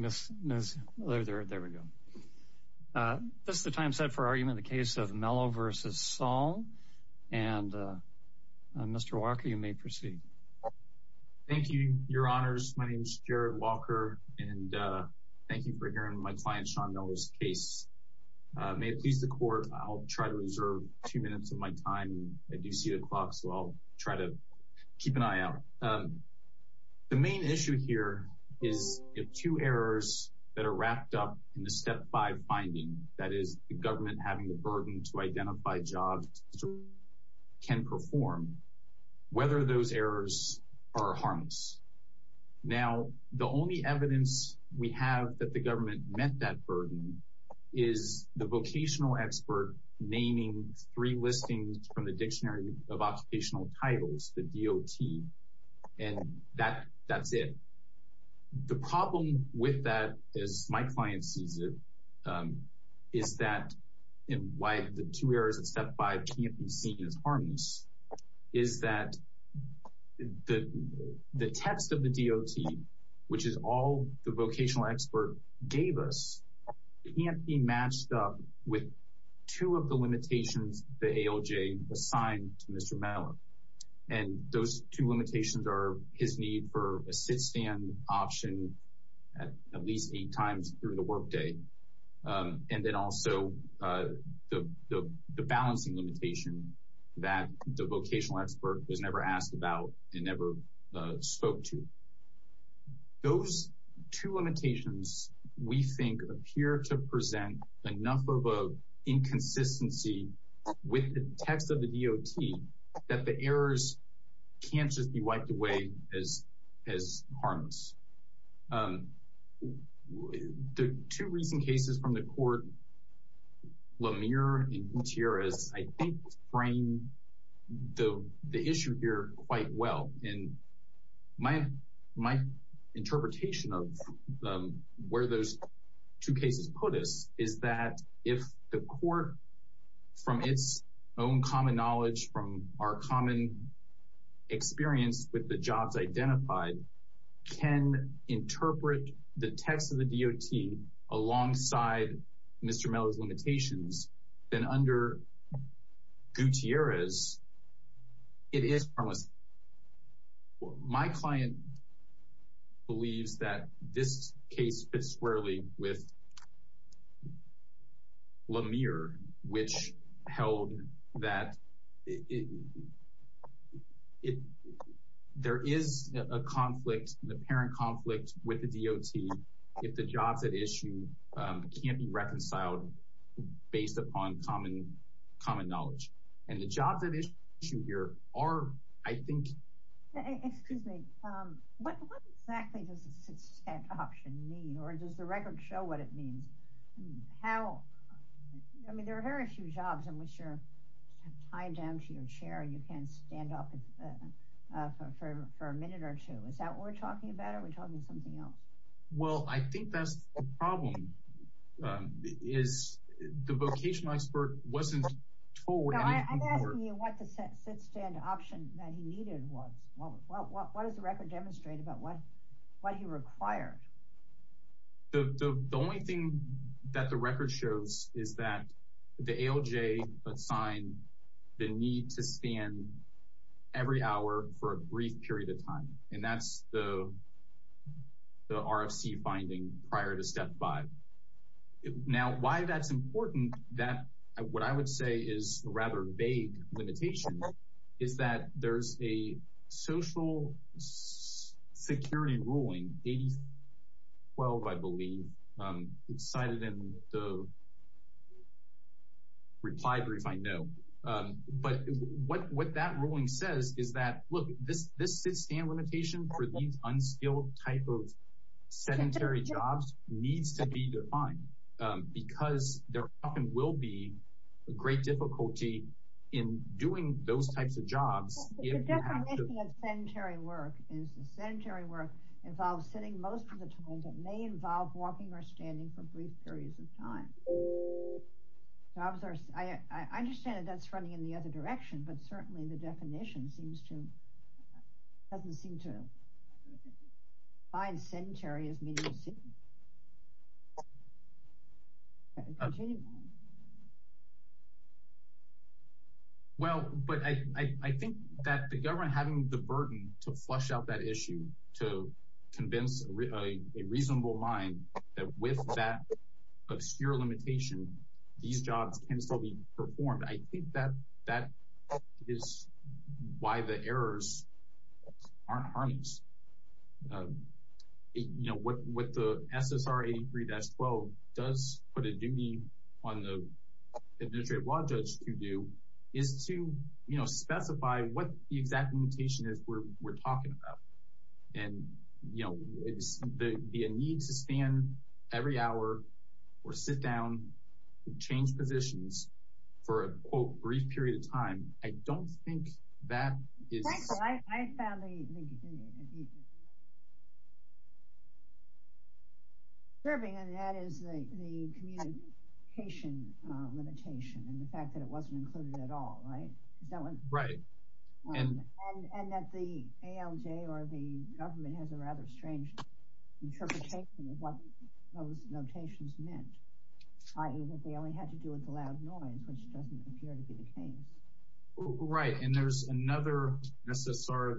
This is the time set for argument in the case of Mellow v. Saul and Mr. Walker, you may proceed. Thank you, your honors, my name is Jared Walker and thank you for hearing my client Sean Mellow's case. May it please the court, I'll try to reserve two minutes of my time, I do see the clock so I'll try to keep an eye out. The main issue here is the two errors that are wrapped up in the step five finding, that is the government having the burden to identify jobs can perform, whether those errors are harmless. Now, the only evidence we have that the government met that burden is the vocational expert naming three listings from the Dictionary of Occupational Titles, the DOT, and that's it. The problem with that, as my client sees it, is that in why the two errors in step five can't be seen as harmless, is that the text of the DOT, which is all the vocational expert gave us, can't be matched up with two of the limitations the ALJ assigned to Mr. Mellow. And those two limitations are his need for a sit-stand option at least eight times through the workday, and then also the balancing limitation that the vocational expert was never asked about and never spoke to. Those two limitations, we think, appear to present enough of an inconsistency with the text of the DOT that the errors can't just be wiped away as harmless. The two recent cases from the court, Lemire and Gutierrez, I think frame the issue here quite well. And my interpretation of where those two cases put us is that if the court, from its own common knowledge, from our common experience with the jobs identified, can interpret the My client believes that this case fits squarely with Lemire, which held that there is a conflict, an apparent conflict, with the DOT if the jobs at issue can't be reconciled based upon common knowledge. And the jobs at issue here are, I think... Excuse me. What exactly does a sit-stand option mean, or does the record show what it means? How... I mean, there are very few jobs in which you're tied down to your chair and you can't stand up for a minute or two. Is that what we're talking about, or are we talking about something else? Well, I think that's the problem, is the vocational expert wasn't told... I'm asking you what the sit-stand option that he needed was. What does the record demonstrate about what he required? The only thing that the record shows is that the ALJ assigned the need to stand every hour for a brief period of time, and that's the RFC finding prior to Step 5. Now, why that's important, what I would say is a rather vague limitation, is that there's a social security ruling, 8012, I believe, cited in the reply brief I know. But what that ruling says is that, look, this sit-stand limitation for these unskilled type of sedentary jobs needs to be defined, because there often will be great difficulty in doing those types of jobs if you have to... The definition of sedentary work is the sedentary work involves sitting most of the time, but may involve walking or standing for brief periods of time. I understand that that's running in the other direction, but certainly the definition doesn't seem to find sedentary as meaning sitting. Well, but I think that the government having the burden to flush out that issue, to convince a reasonable mind that with that obscure limitation, these jobs can still be performed. I think that that is why the errors aren't harmless. What the SSR 83-12 does put a duty on the Administrative Law Judge to do is to specify what the exact limitation is we're talking about. And, you know, the need to stand every hour or sit down and change positions for a, quote, brief period of time. I don't think that is... Michael, I found the... ...serving, and that is the communication limitation, and the fact that it wasn't included at all, right? Is that what... Right. And that the ALJ or the government has a rather strange interpretation of what those notations meant, i.e. that they only had to do with the loud noise, which doesn't appear to be the case. Right. And there's another SSR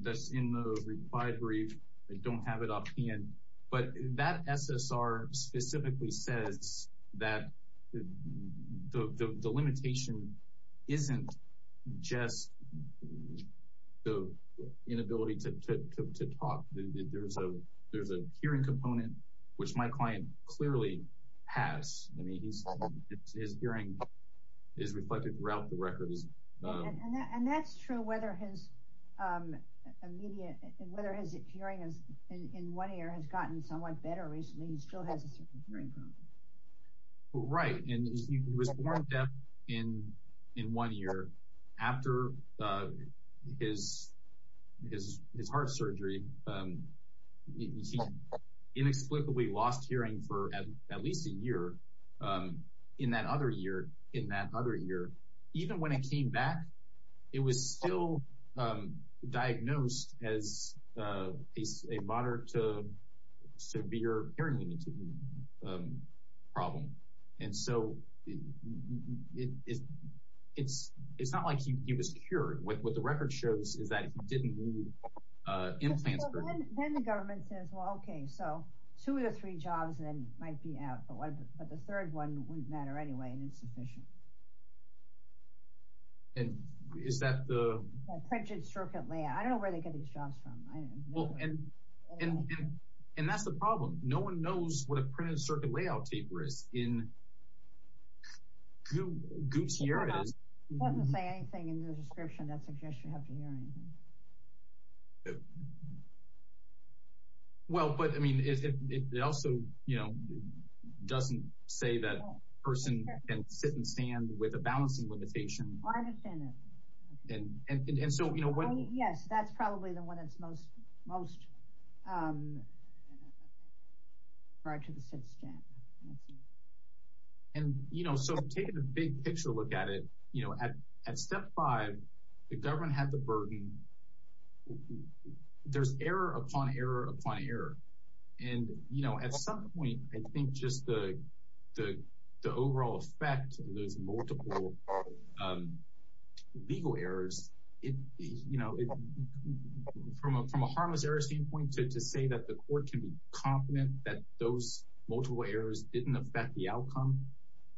that's in the required brief. I don't have it up here, but that SSR specifically says that the limitation isn't just the inability to talk. There's a hearing component, which my client clearly has. I mean, his hearing is reflected throughout the records. And that's true whether his hearing in one ear has gotten somewhat better recently. He still has a certain hearing problem. Right. And he was born deaf in one ear. After his heart surgery, he inexplicably lost hearing for at least a year. In that other ear, even when it came back, it was still diagnosed as a moderate to severe hearing problem. And so it's not like he was cured. What the record shows is that he didn't need implants. Then the government says, well, okay, so two of the three jobs then might be out. But the third one wouldn't matter anyway, and it's sufficient. And is that the... Printed circuit layout. I don't know where they get these jobs from. And that's the problem. No one knows what a printed circuit layout taper is in Goop's hearing. It doesn't say anything in the description that suggests you have to hear anything. Well, but I mean, it also doesn't say that a person can sit and stand with a balancing limitation. I understand that. Yes, that's probably the one that's most... Right to the sit stand. And, you know, so taking a big picture look at it, you know, at step five, the government had the burden. There's error upon error upon error. And, you know, at some point, I think just the overall effect of those multiple legal errors, you know, from a harmless error standpoint to say that the court can be confident that those multiple errors didn't affect the outcome.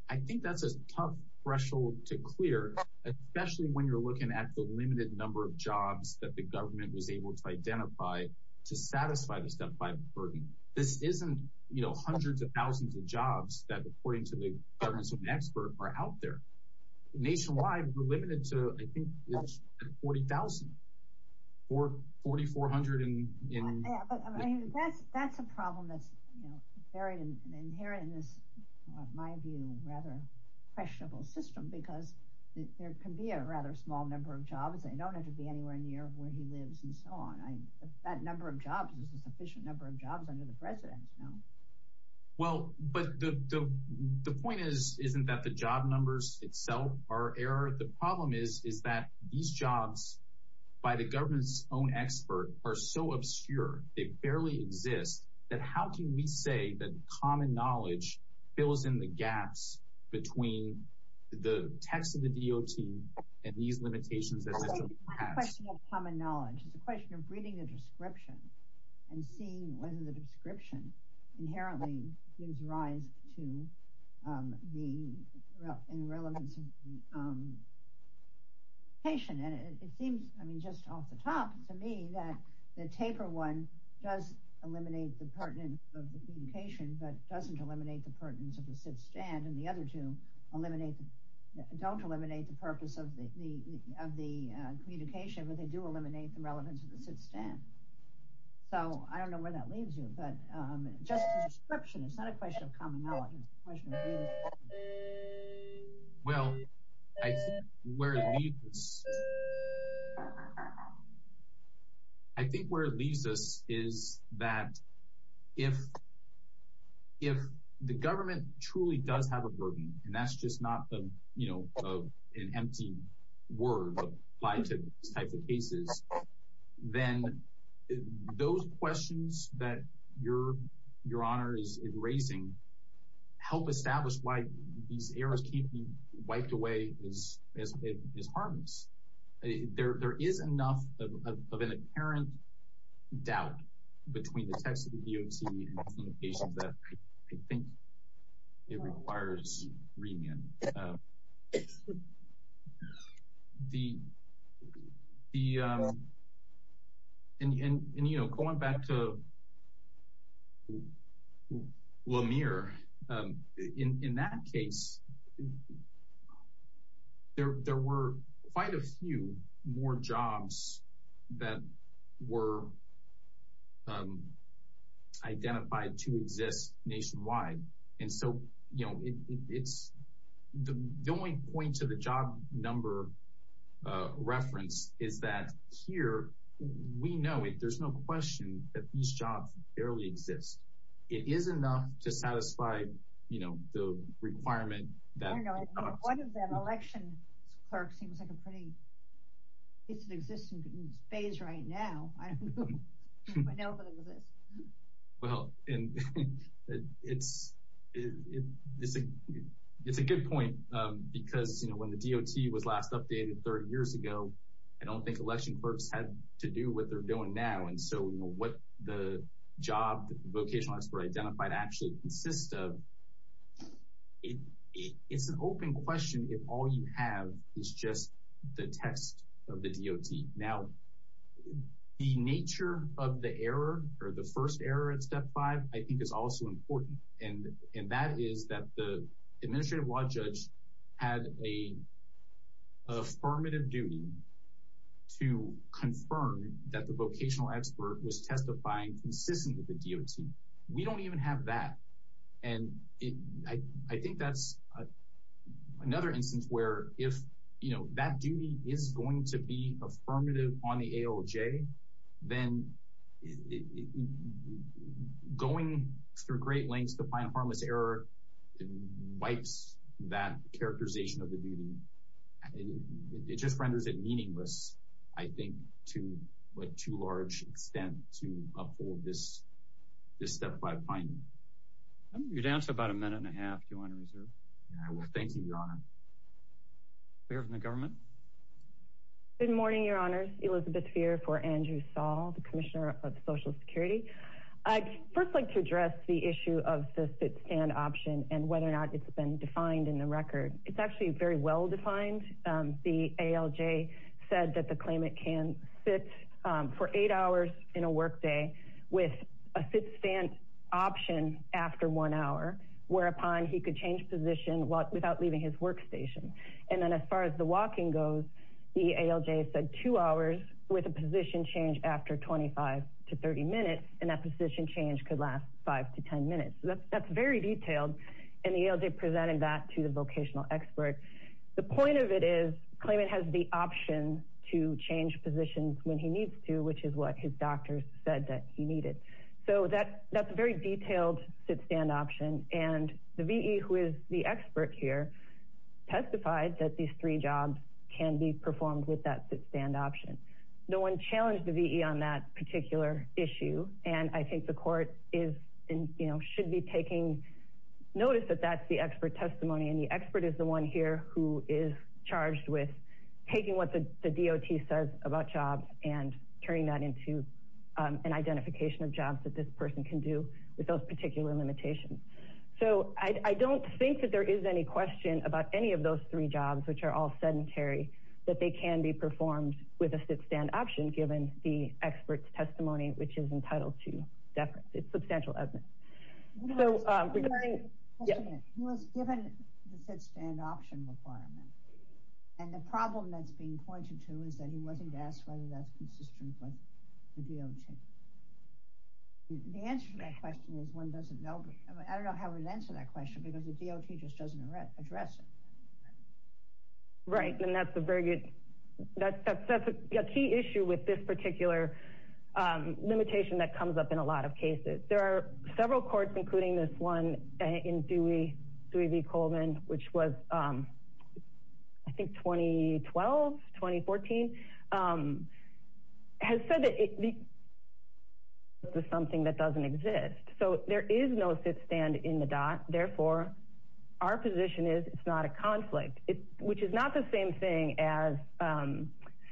I think that's a tough threshold to clear, especially when you're looking at the limited number of jobs that the government was able to identify to satisfy the step five burden. This isn't, you know, hundreds of thousands of jobs that according to the governance of an expert are out there. Nationwide, we're limited to, I think, 40,000 or 4,400. That's a problem that's very inherent in this, in my view, rather questionable system because there can be a rather small number of jobs. They don't have to be anywhere near where he lives and so on. That number of jobs is a sufficient number of jobs under the president. Well, but the point is, isn't that the job numbers itself are error? The problem is, is that these jobs by the government's own expert are so obscure, they barely exist, that how can we say that common knowledge fills in the gaps between the text of the DOT and these limitations? The question of common knowledge is a question of reading the description and seeing what is in the description inherently gives rise to the relevance of the patient. And it seems, I mean, just off the top, to me, that the taper one does eliminate the pertinence of the communication, but doesn't eliminate the pertinence of the sit-stand and the other two don't eliminate the purpose of the communication, but they do eliminate the relevance of the sit-stand. So, I don't know where that leaves you, but just the description, it's not a question of common knowledge, it's a question of reading the description. Well, I think where it leaves us is that if the government truly does have a burden, and that's just not, you know, an empty word applied to these types of cases, then those questions that Your Honor is raising help establish why these errors can't be wiped away as harmless. There is enough of an apparent doubt between the text of the DOT and the patient that I was asking. And, you know, going back to Lemire, in that case, there were quite a few more jobs that were identified to exist nationwide. And so, you know, the only point to the job number reference is that here, we know, there's no question that these jobs barely exist. It is enough to satisfy, you know, the requirement that... One of them, election clerk, seems like a pretty... It's an existing phase right now. I don't know if I know if it exists. Well, it's a good point because, you know, when the DOT was last updated 30 years ago, I don't think election clerks had to do what they're doing now. And so, you know, what the job vocational expert identified actually consists of, it's an open question if all you have is just the text of the DOT. Now, the nature of the error or the first error at step five, I think, is also important. And that is that the administrative law judge had an affirmative duty to confirm that the vocational expert was testifying consistent with the DOT. We don't even have that. And I think that's another instance where if, you know, that duty is going to be affirmative on the ALJ, then going through great lengths to find harmless error wipes that characterization of the duty. It just renders it meaningless, I think, to what too large extent to uphold this step five finding. You're down to about a minute and a half. Do you want to reserve? I will. Thank you, Your Honor. Clear from the government? Good morning, Your Honors. Elizabeth Feer for Andrew Saul, the Commissioner of Social Security. I'd first like to address the issue of the fit-stand option and whether or not it's been defined in the record. It's actually very well defined. The ALJ said that the claimant can sit for eight hours in a workday with a fit-stand option after one hour, whereupon he could change position without leaving his workstation. And then as far as the walking goes, the ALJ said two hours with a position change after 25 to 30 minutes, and that position change could last five to 10 minutes. That's very detailed, and the ALJ presented that to the vocational expert. The point of it is the claimant has the option to change positions when he needs to, which is what his doctors said that he needed. So that's a very detailed fit-stand option, and the V.E., who is the expert here, testified that these three jobs can be performed with that fit-stand option. No one challenged the V.E. on that particular issue, and I think the court should be taking notice that that's the expert testimony, and the expert is the one here who is charged with taking what the DOT says about jobs and turning that into an identification of jobs that this person can do with those particular limitations. So I don't think that there is any question about any of those three jobs, which are all fit-stand option, given the expert's testimony, which is entitled to deference. It's substantial evidence. He was given the fit-stand option requirement, and the problem that's being pointed to is that he wasn't asked whether that's consistent with the DOT. The answer to that question is one doesn't know. I don't know how he would answer that question, because the DOT just doesn't address it. Right, and that's a key issue with this particular limitation that comes up in a lot of cases. There are several courts, including this one in Dewey v. Coleman, which was, I think, 2012, 2014, has said that it's something that doesn't exist. So there is no fit-stand in the DOT. Therefore, our position is it's not a conflict, which is not the same thing as,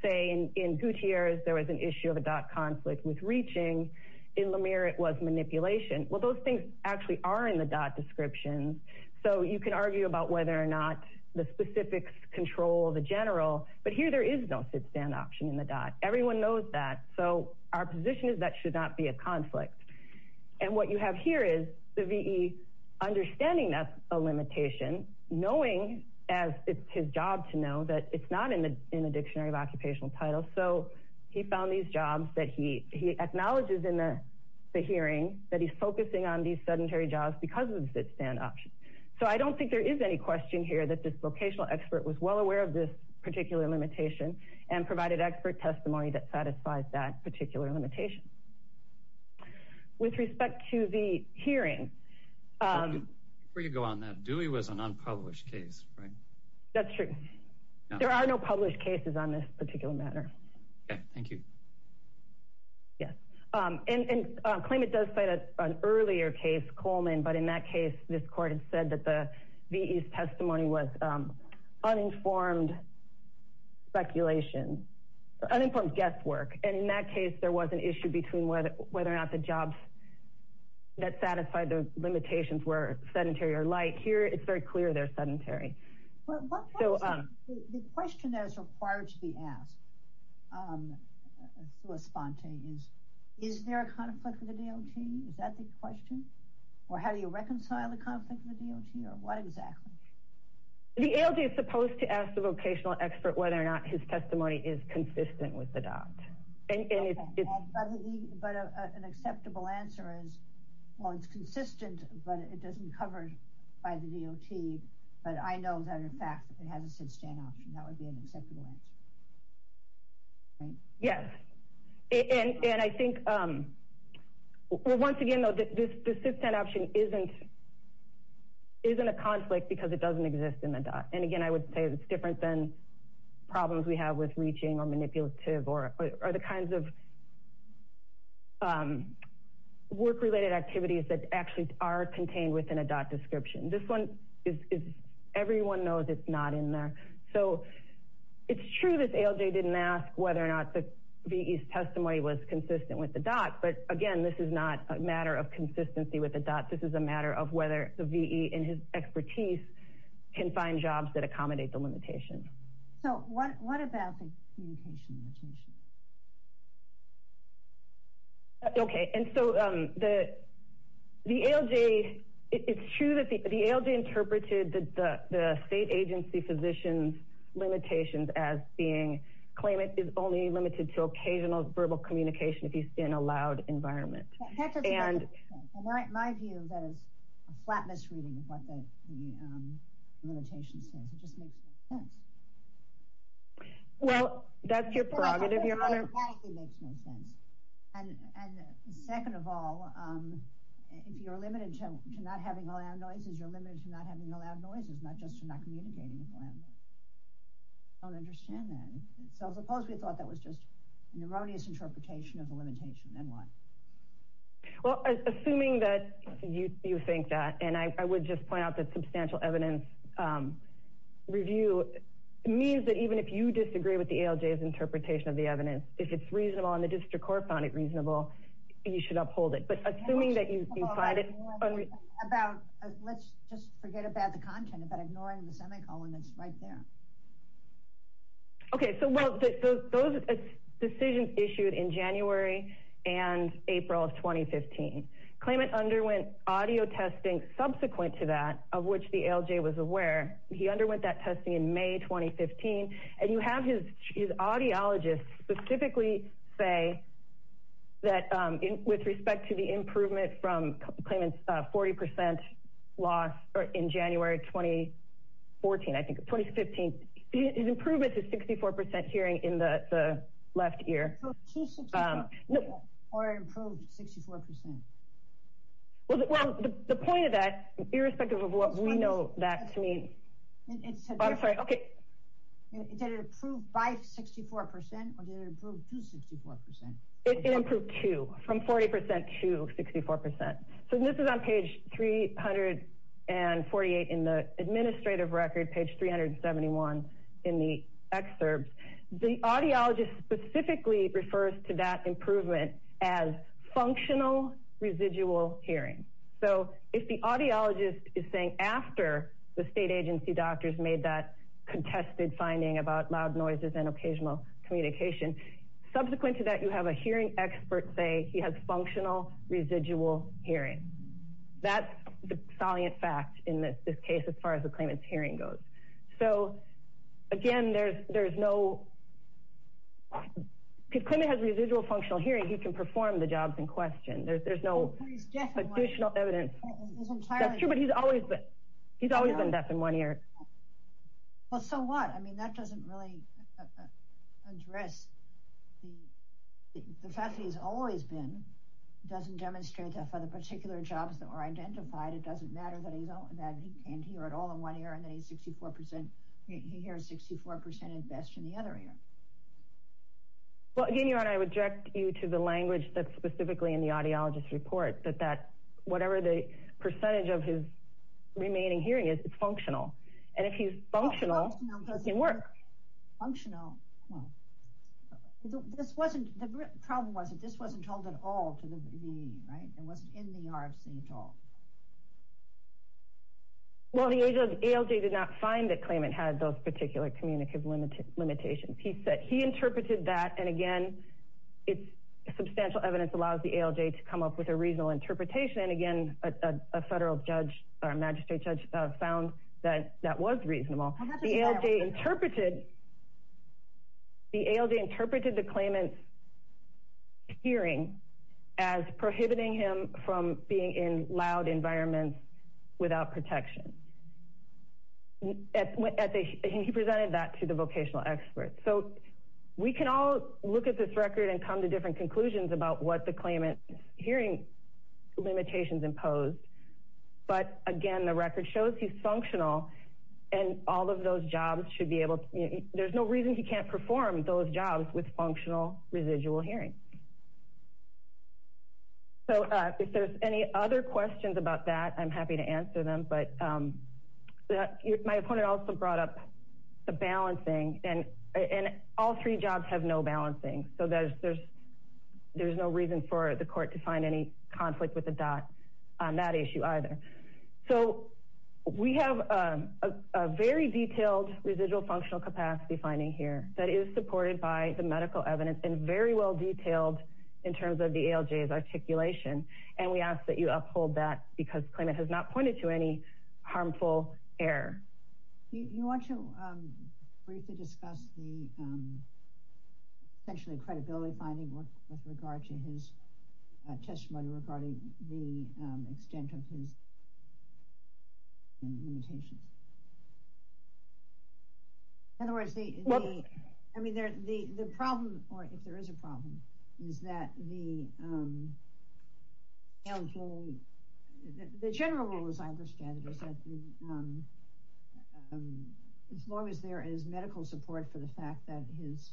say, in Gutierrez, there was an issue of a DOT conflict with reaching. In Lemire, it was manipulation. Well, those things actually are in the DOT description, so you can argue about whether or not the specifics control the general, but here there is no fit-stand option in the DOT. Everyone knows that, so our position is that should not be a conflict. And what you have here is the V.E. understanding that's a limitation, knowing, as it's his job to know, that it's not in the Dictionary of Occupational Titles, so he found these jobs that he acknowledges in the hearing that he's focusing on these sedentary jobs because of the fit-stand option. So I don't think there is any question here that this vocational expert was well aware of this particular limitation and provided expert testimony that satisfies that particular limitation. With respect to the hearing... Before you go on that, Dewey was an unpublished case, right? That's true. There are no published cases on this particular matter. Okay. Thank you. Yes. And claimant does cite an earlier case, Coleman, but in that case, this court had said that the V.E.'s testimony was uninformed speculation, uninformed guesswork. And in that case, there was an issue between whether or not the jobs that satisfied the limitations were sedentary or light. Here, it's very clear they're sedentary. The question that is required to be asked through a sponte is, is there a conflict with the D.L.T.? Is that the question? Or how do you reconcile the conflict with the D.L.T.? Or what exactly? The ALJ is supposed to ask the vocational expert whether or not his testimony is consistent with the DOT. Okay. But an acceptable answer is, well, it's consistent, but it doesn't cover by the D.L.T. But I know that, in fact, it has a sit-stand option. That would be an acceptable answer. Yes. And I think... Well, once again, this sit-stand option isn't a conflict because it doesn't exist in the DOT. And again, I would say it's different than problems we have with reaching or manipulative or the kinds of work-related activities that actually are contained within a DOT description. This one, everyone knows it's not in there. So, it's true that the ALJ didn't ask whether or not the V.E.'s testimony was consistent with the DOT. But again, this is not a matter of consistency with the DOT. This is a matter of whether the V.E. in his expertise can find jobs that accommodate the limitation. So, what about the communication limitation? Okay. And so, the ALJ... It's true that the ALJ interpreted the state agency physician's limitations as being... In a loud environment. In my view, that is a flat misreading of what the limitation says. It just makes no sense. Well, that's your prerogative, Your Honor. And second of all, if you're limited to not having loud noises, you're limited to not having loud noises, not just to not communicating. I don't understand that. So, suppose we thought that was just an erroneous interpretation of the limitation. Then what? Well, assuming that you think that, and I would just point out that substantial evidence review means that even if you disagree with the ALJ's interpretation of the evidence, if it's reasonable and the district court found it reasonable, you should uphold it. But assuming that you find it... Let's just forget about the content, about ignoring the semicolon that's right there. Okay, so those decisions issued in January and April of 2015. Klayman underwent audio testing subsequent to that, of which the ALJ was aware. He underwent that testing in May 2015. And you have his audiologist specifically say that with respect to the improvement from Klayman's 40% loss in January 2014, his improvement to 64% hearing in the left ear. Or improved 64%? Well, the point of that, irrespective of what we know that to mean... Did it improve by 64% or did it improve to 64%? It improved to, from 40% to 64%. So this is on page 348 in the administrative record, page 371 in the excerpts. The audiologist specifically refers to that improvement as functional residual hearing. So if the audiologist is saying after the state agency doctors made that contested finding about loud noises and occasional communication, subsequent to that you have a hearing expert say he has functional residual hearing. That's the salient fact in this case as far as the Klayman's hearing goes. So again, there's no... If Klayman has residual functional hearing, he can perform the jobs in question. There's no additional evidence. He's always been deaf in one ear. So what? That doesn't really address the fact that he's always been. It doesn't demonstrate that for the particular jobs that were identified. It doesn't matter that he can't hear at all in one ear and then he hears 64% at best in the other ear. Well, again, your Honor, I would direct you to the language that's specifically in the audiologist's report, that whatever the percentage of his remaining hearing is, it's functional. And if he's functional, he can work. The problem was that this wasn't told at all to the... It wasn't in the RFC at all. Well, the ALJ did not find that Klayman had those particular communicative limitations. He interpreted that, and again, substantial evidence allows the ALJ to come up with a reasonable interpretation and again, a federal judge or magistrate judge found that that was reasonable. The ALJ interpreted the Klayman's hearing as prohibiting him from being in loud environments without protection. And he presented that to the vocational experts. So we can all look at this record and come to different conclusions about what the Klayman's hearing limitations imposed, but again, the record shows he's functional and all of those jobs should be able to... There's no reason he can't perform those jobs with functional residual hearing. If there's any other questions about that, I'm happy to answer them, but my opponent also brought up the balancing and all three jobs have no balancing. There's no reason for the court to find any conflict with the DOT on that issue either. So we have a very detailed residual functional capacity finding here that is supported by the medical evidence and very well detailed in terms of the ALJ's articulation and we ask that you uphold that because Klayman has not pointed to any harmful error. You want to briefly discuss the essentially credibility finding with regard to his testimony regarding the extent of his limitations? In other words, the problem, or if there is a problem, is that the ALJ, the general rule as I understand it is that as long as there is medical support for the fact that his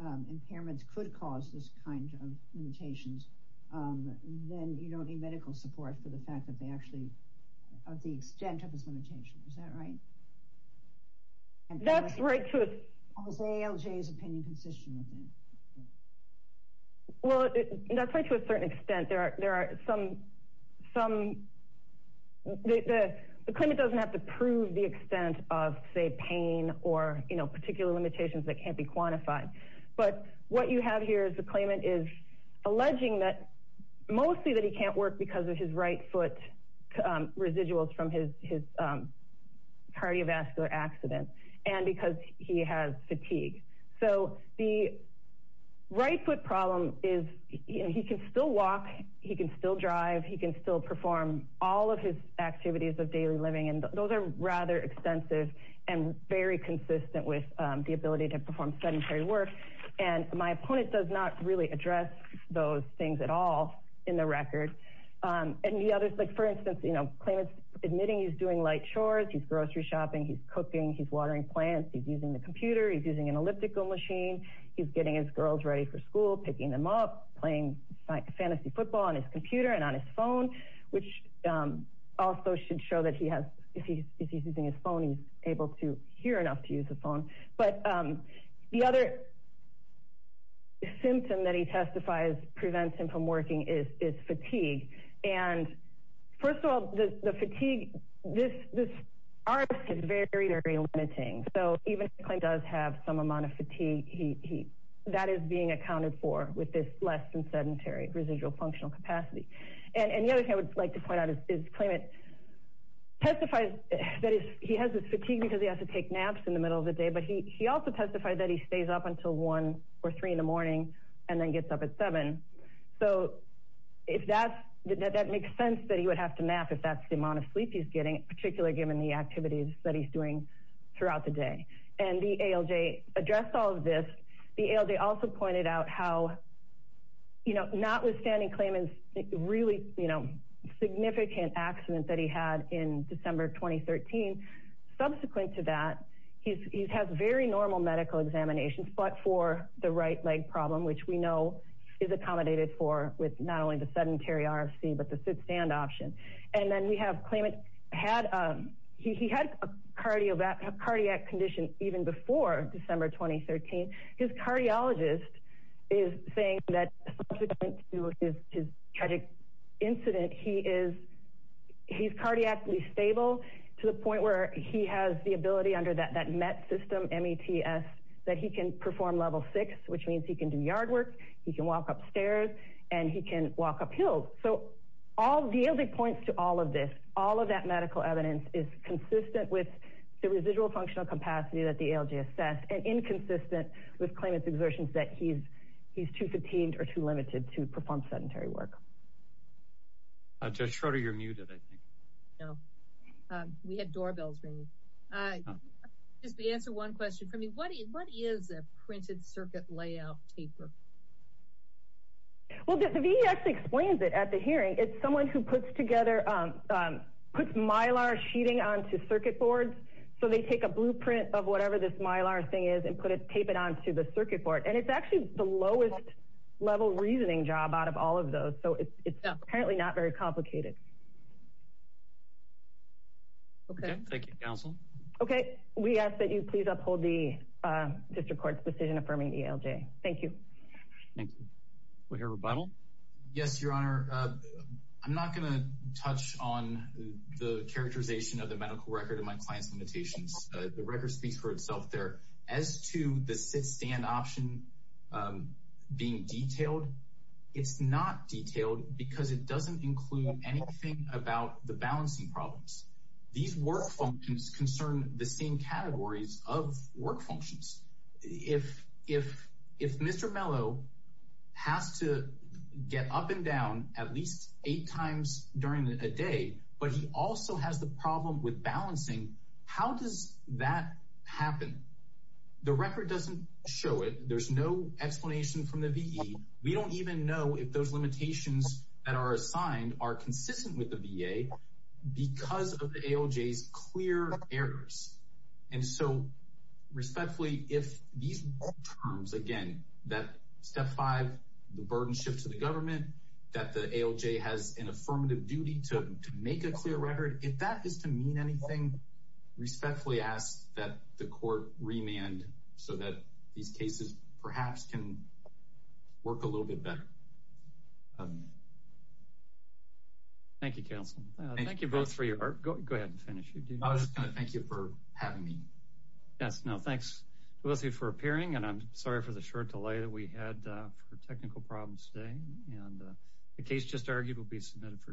impairments could cause this kind of limitations, then you don't need medical support for the fact that they actually of the extent of his limitations, is that right? That's right. Well, that's right to a certain extent. There are some Klayman doesn't have to prove the extent of say pain or particular limitations that can't be quantified, but what you have here is Klayman is alleging that mostly that he can't work because of his right foot residuals from his cardiovascular accident and because he has fatigue. So the right foot problem is he can still walk, he can still drive, he can still perform all of his activities of daily living and those are rather extensive and very consistent with the ability to perform sedentary work and my opponent does not really address those things at all in the record. Klayman is admitting he's doing light chores, he's grocery shopping, he's cooking, he's watering plants, he's using the computer, he's using an elliptical machine, he's getting his girls ready for school, picking them up, playing fantasy football on his computer and on his phone, which also should show that he has if he's using his phone, he's able to hear enough to use his phone. The other symptom that he has is fatigue and first of all, the fatigue is very limiting, so even if Klayman does have some amount of fatigue, that is being accounted for with this less than sedentary residual functional capacity. And the other thing I would like to point out is Klayman testifies that he has this fatigue because he has to take naps in the middle of the day, but he also testified that he stays up until 1 or 3 in the morning and then gets up at 7, so that makes sense that he would have to nap if that's the amount of sleep he's getting, particularly given the activities that he's doing throughout the day. And the ALJ addressed all of this the ALJ also pointed out how notwithstanding Klayman's really significant accident that he had in December 2013, subsequent to that he has very normal medical examinations, but for the right leg problem, which we know is accommodated for with not only the sedentary RFC, but the sit-stand option. And then we have Klayman had a cardiac condition even before December 2013. His cardiologist is saying that subsequent to his tragic incident, he is cardiac stable to the point where he has the ability under that MET system, M-E-T-S that he can perform level 6, which means he can do yard work, he can walk upstairs and he can walk up hills. So the ALJ points to all of this, all of that medical evidence is consistent with the residual functional capacity that the ALJ assessed and inconsistent with Klayman's exertions that he's too fatigued or too limited to perform sedentary work. Judge Schroeder, you're muted I think. No, we had doorbells ringing. Just to answer one question for me, what is a printed circuit layout taper? The VEX explains it at the hearing. It's someone who puts together puts mylar sheeting onto circuit boards so they take a blueprint of whatever this mylar thing is and tape it onto the circuit board. And it's actually the lowest level reasoning job out of all of those. So it's apparently not very complicated. Thank you, Counsel. We ask that you please uphold the District Court's decision affirming ALJ. Thank you. Yes, Your Honor. I'm not going to touch on the characterization of the medical record and my client's limitations. The record speaks for itself there. As to the sit-stand option being detailed, it's not detailed because it doesn't include anything about the balancing problems. These work functions concern the same categories of work functions. If Mr. Mello has to get up and down at least eight times during a day, but he also has the problem with balancing, how does that happen? The record doesn't show it. There's no explanation from the VE. We don't even know if those limitations that are assigned are consistent with the VA because of the ALJ's clear errors. And so, respectfully, if these terms, again, that Step 5, the burden shift to the government, that the ALJ has an affirmative duty to make a clear record, if that is to mean anything, respectfully ask that the Court remand so that these cases perhaps can work a little bit better. Thank you, counsel. Thank you both for your work. Go ahead and finish. I was just going to thank you for having me. Yes, no, thanks to both of you for appearing and I'm sorry for the short delay that we had for technical problems today and the case just argued will be submitted for decision.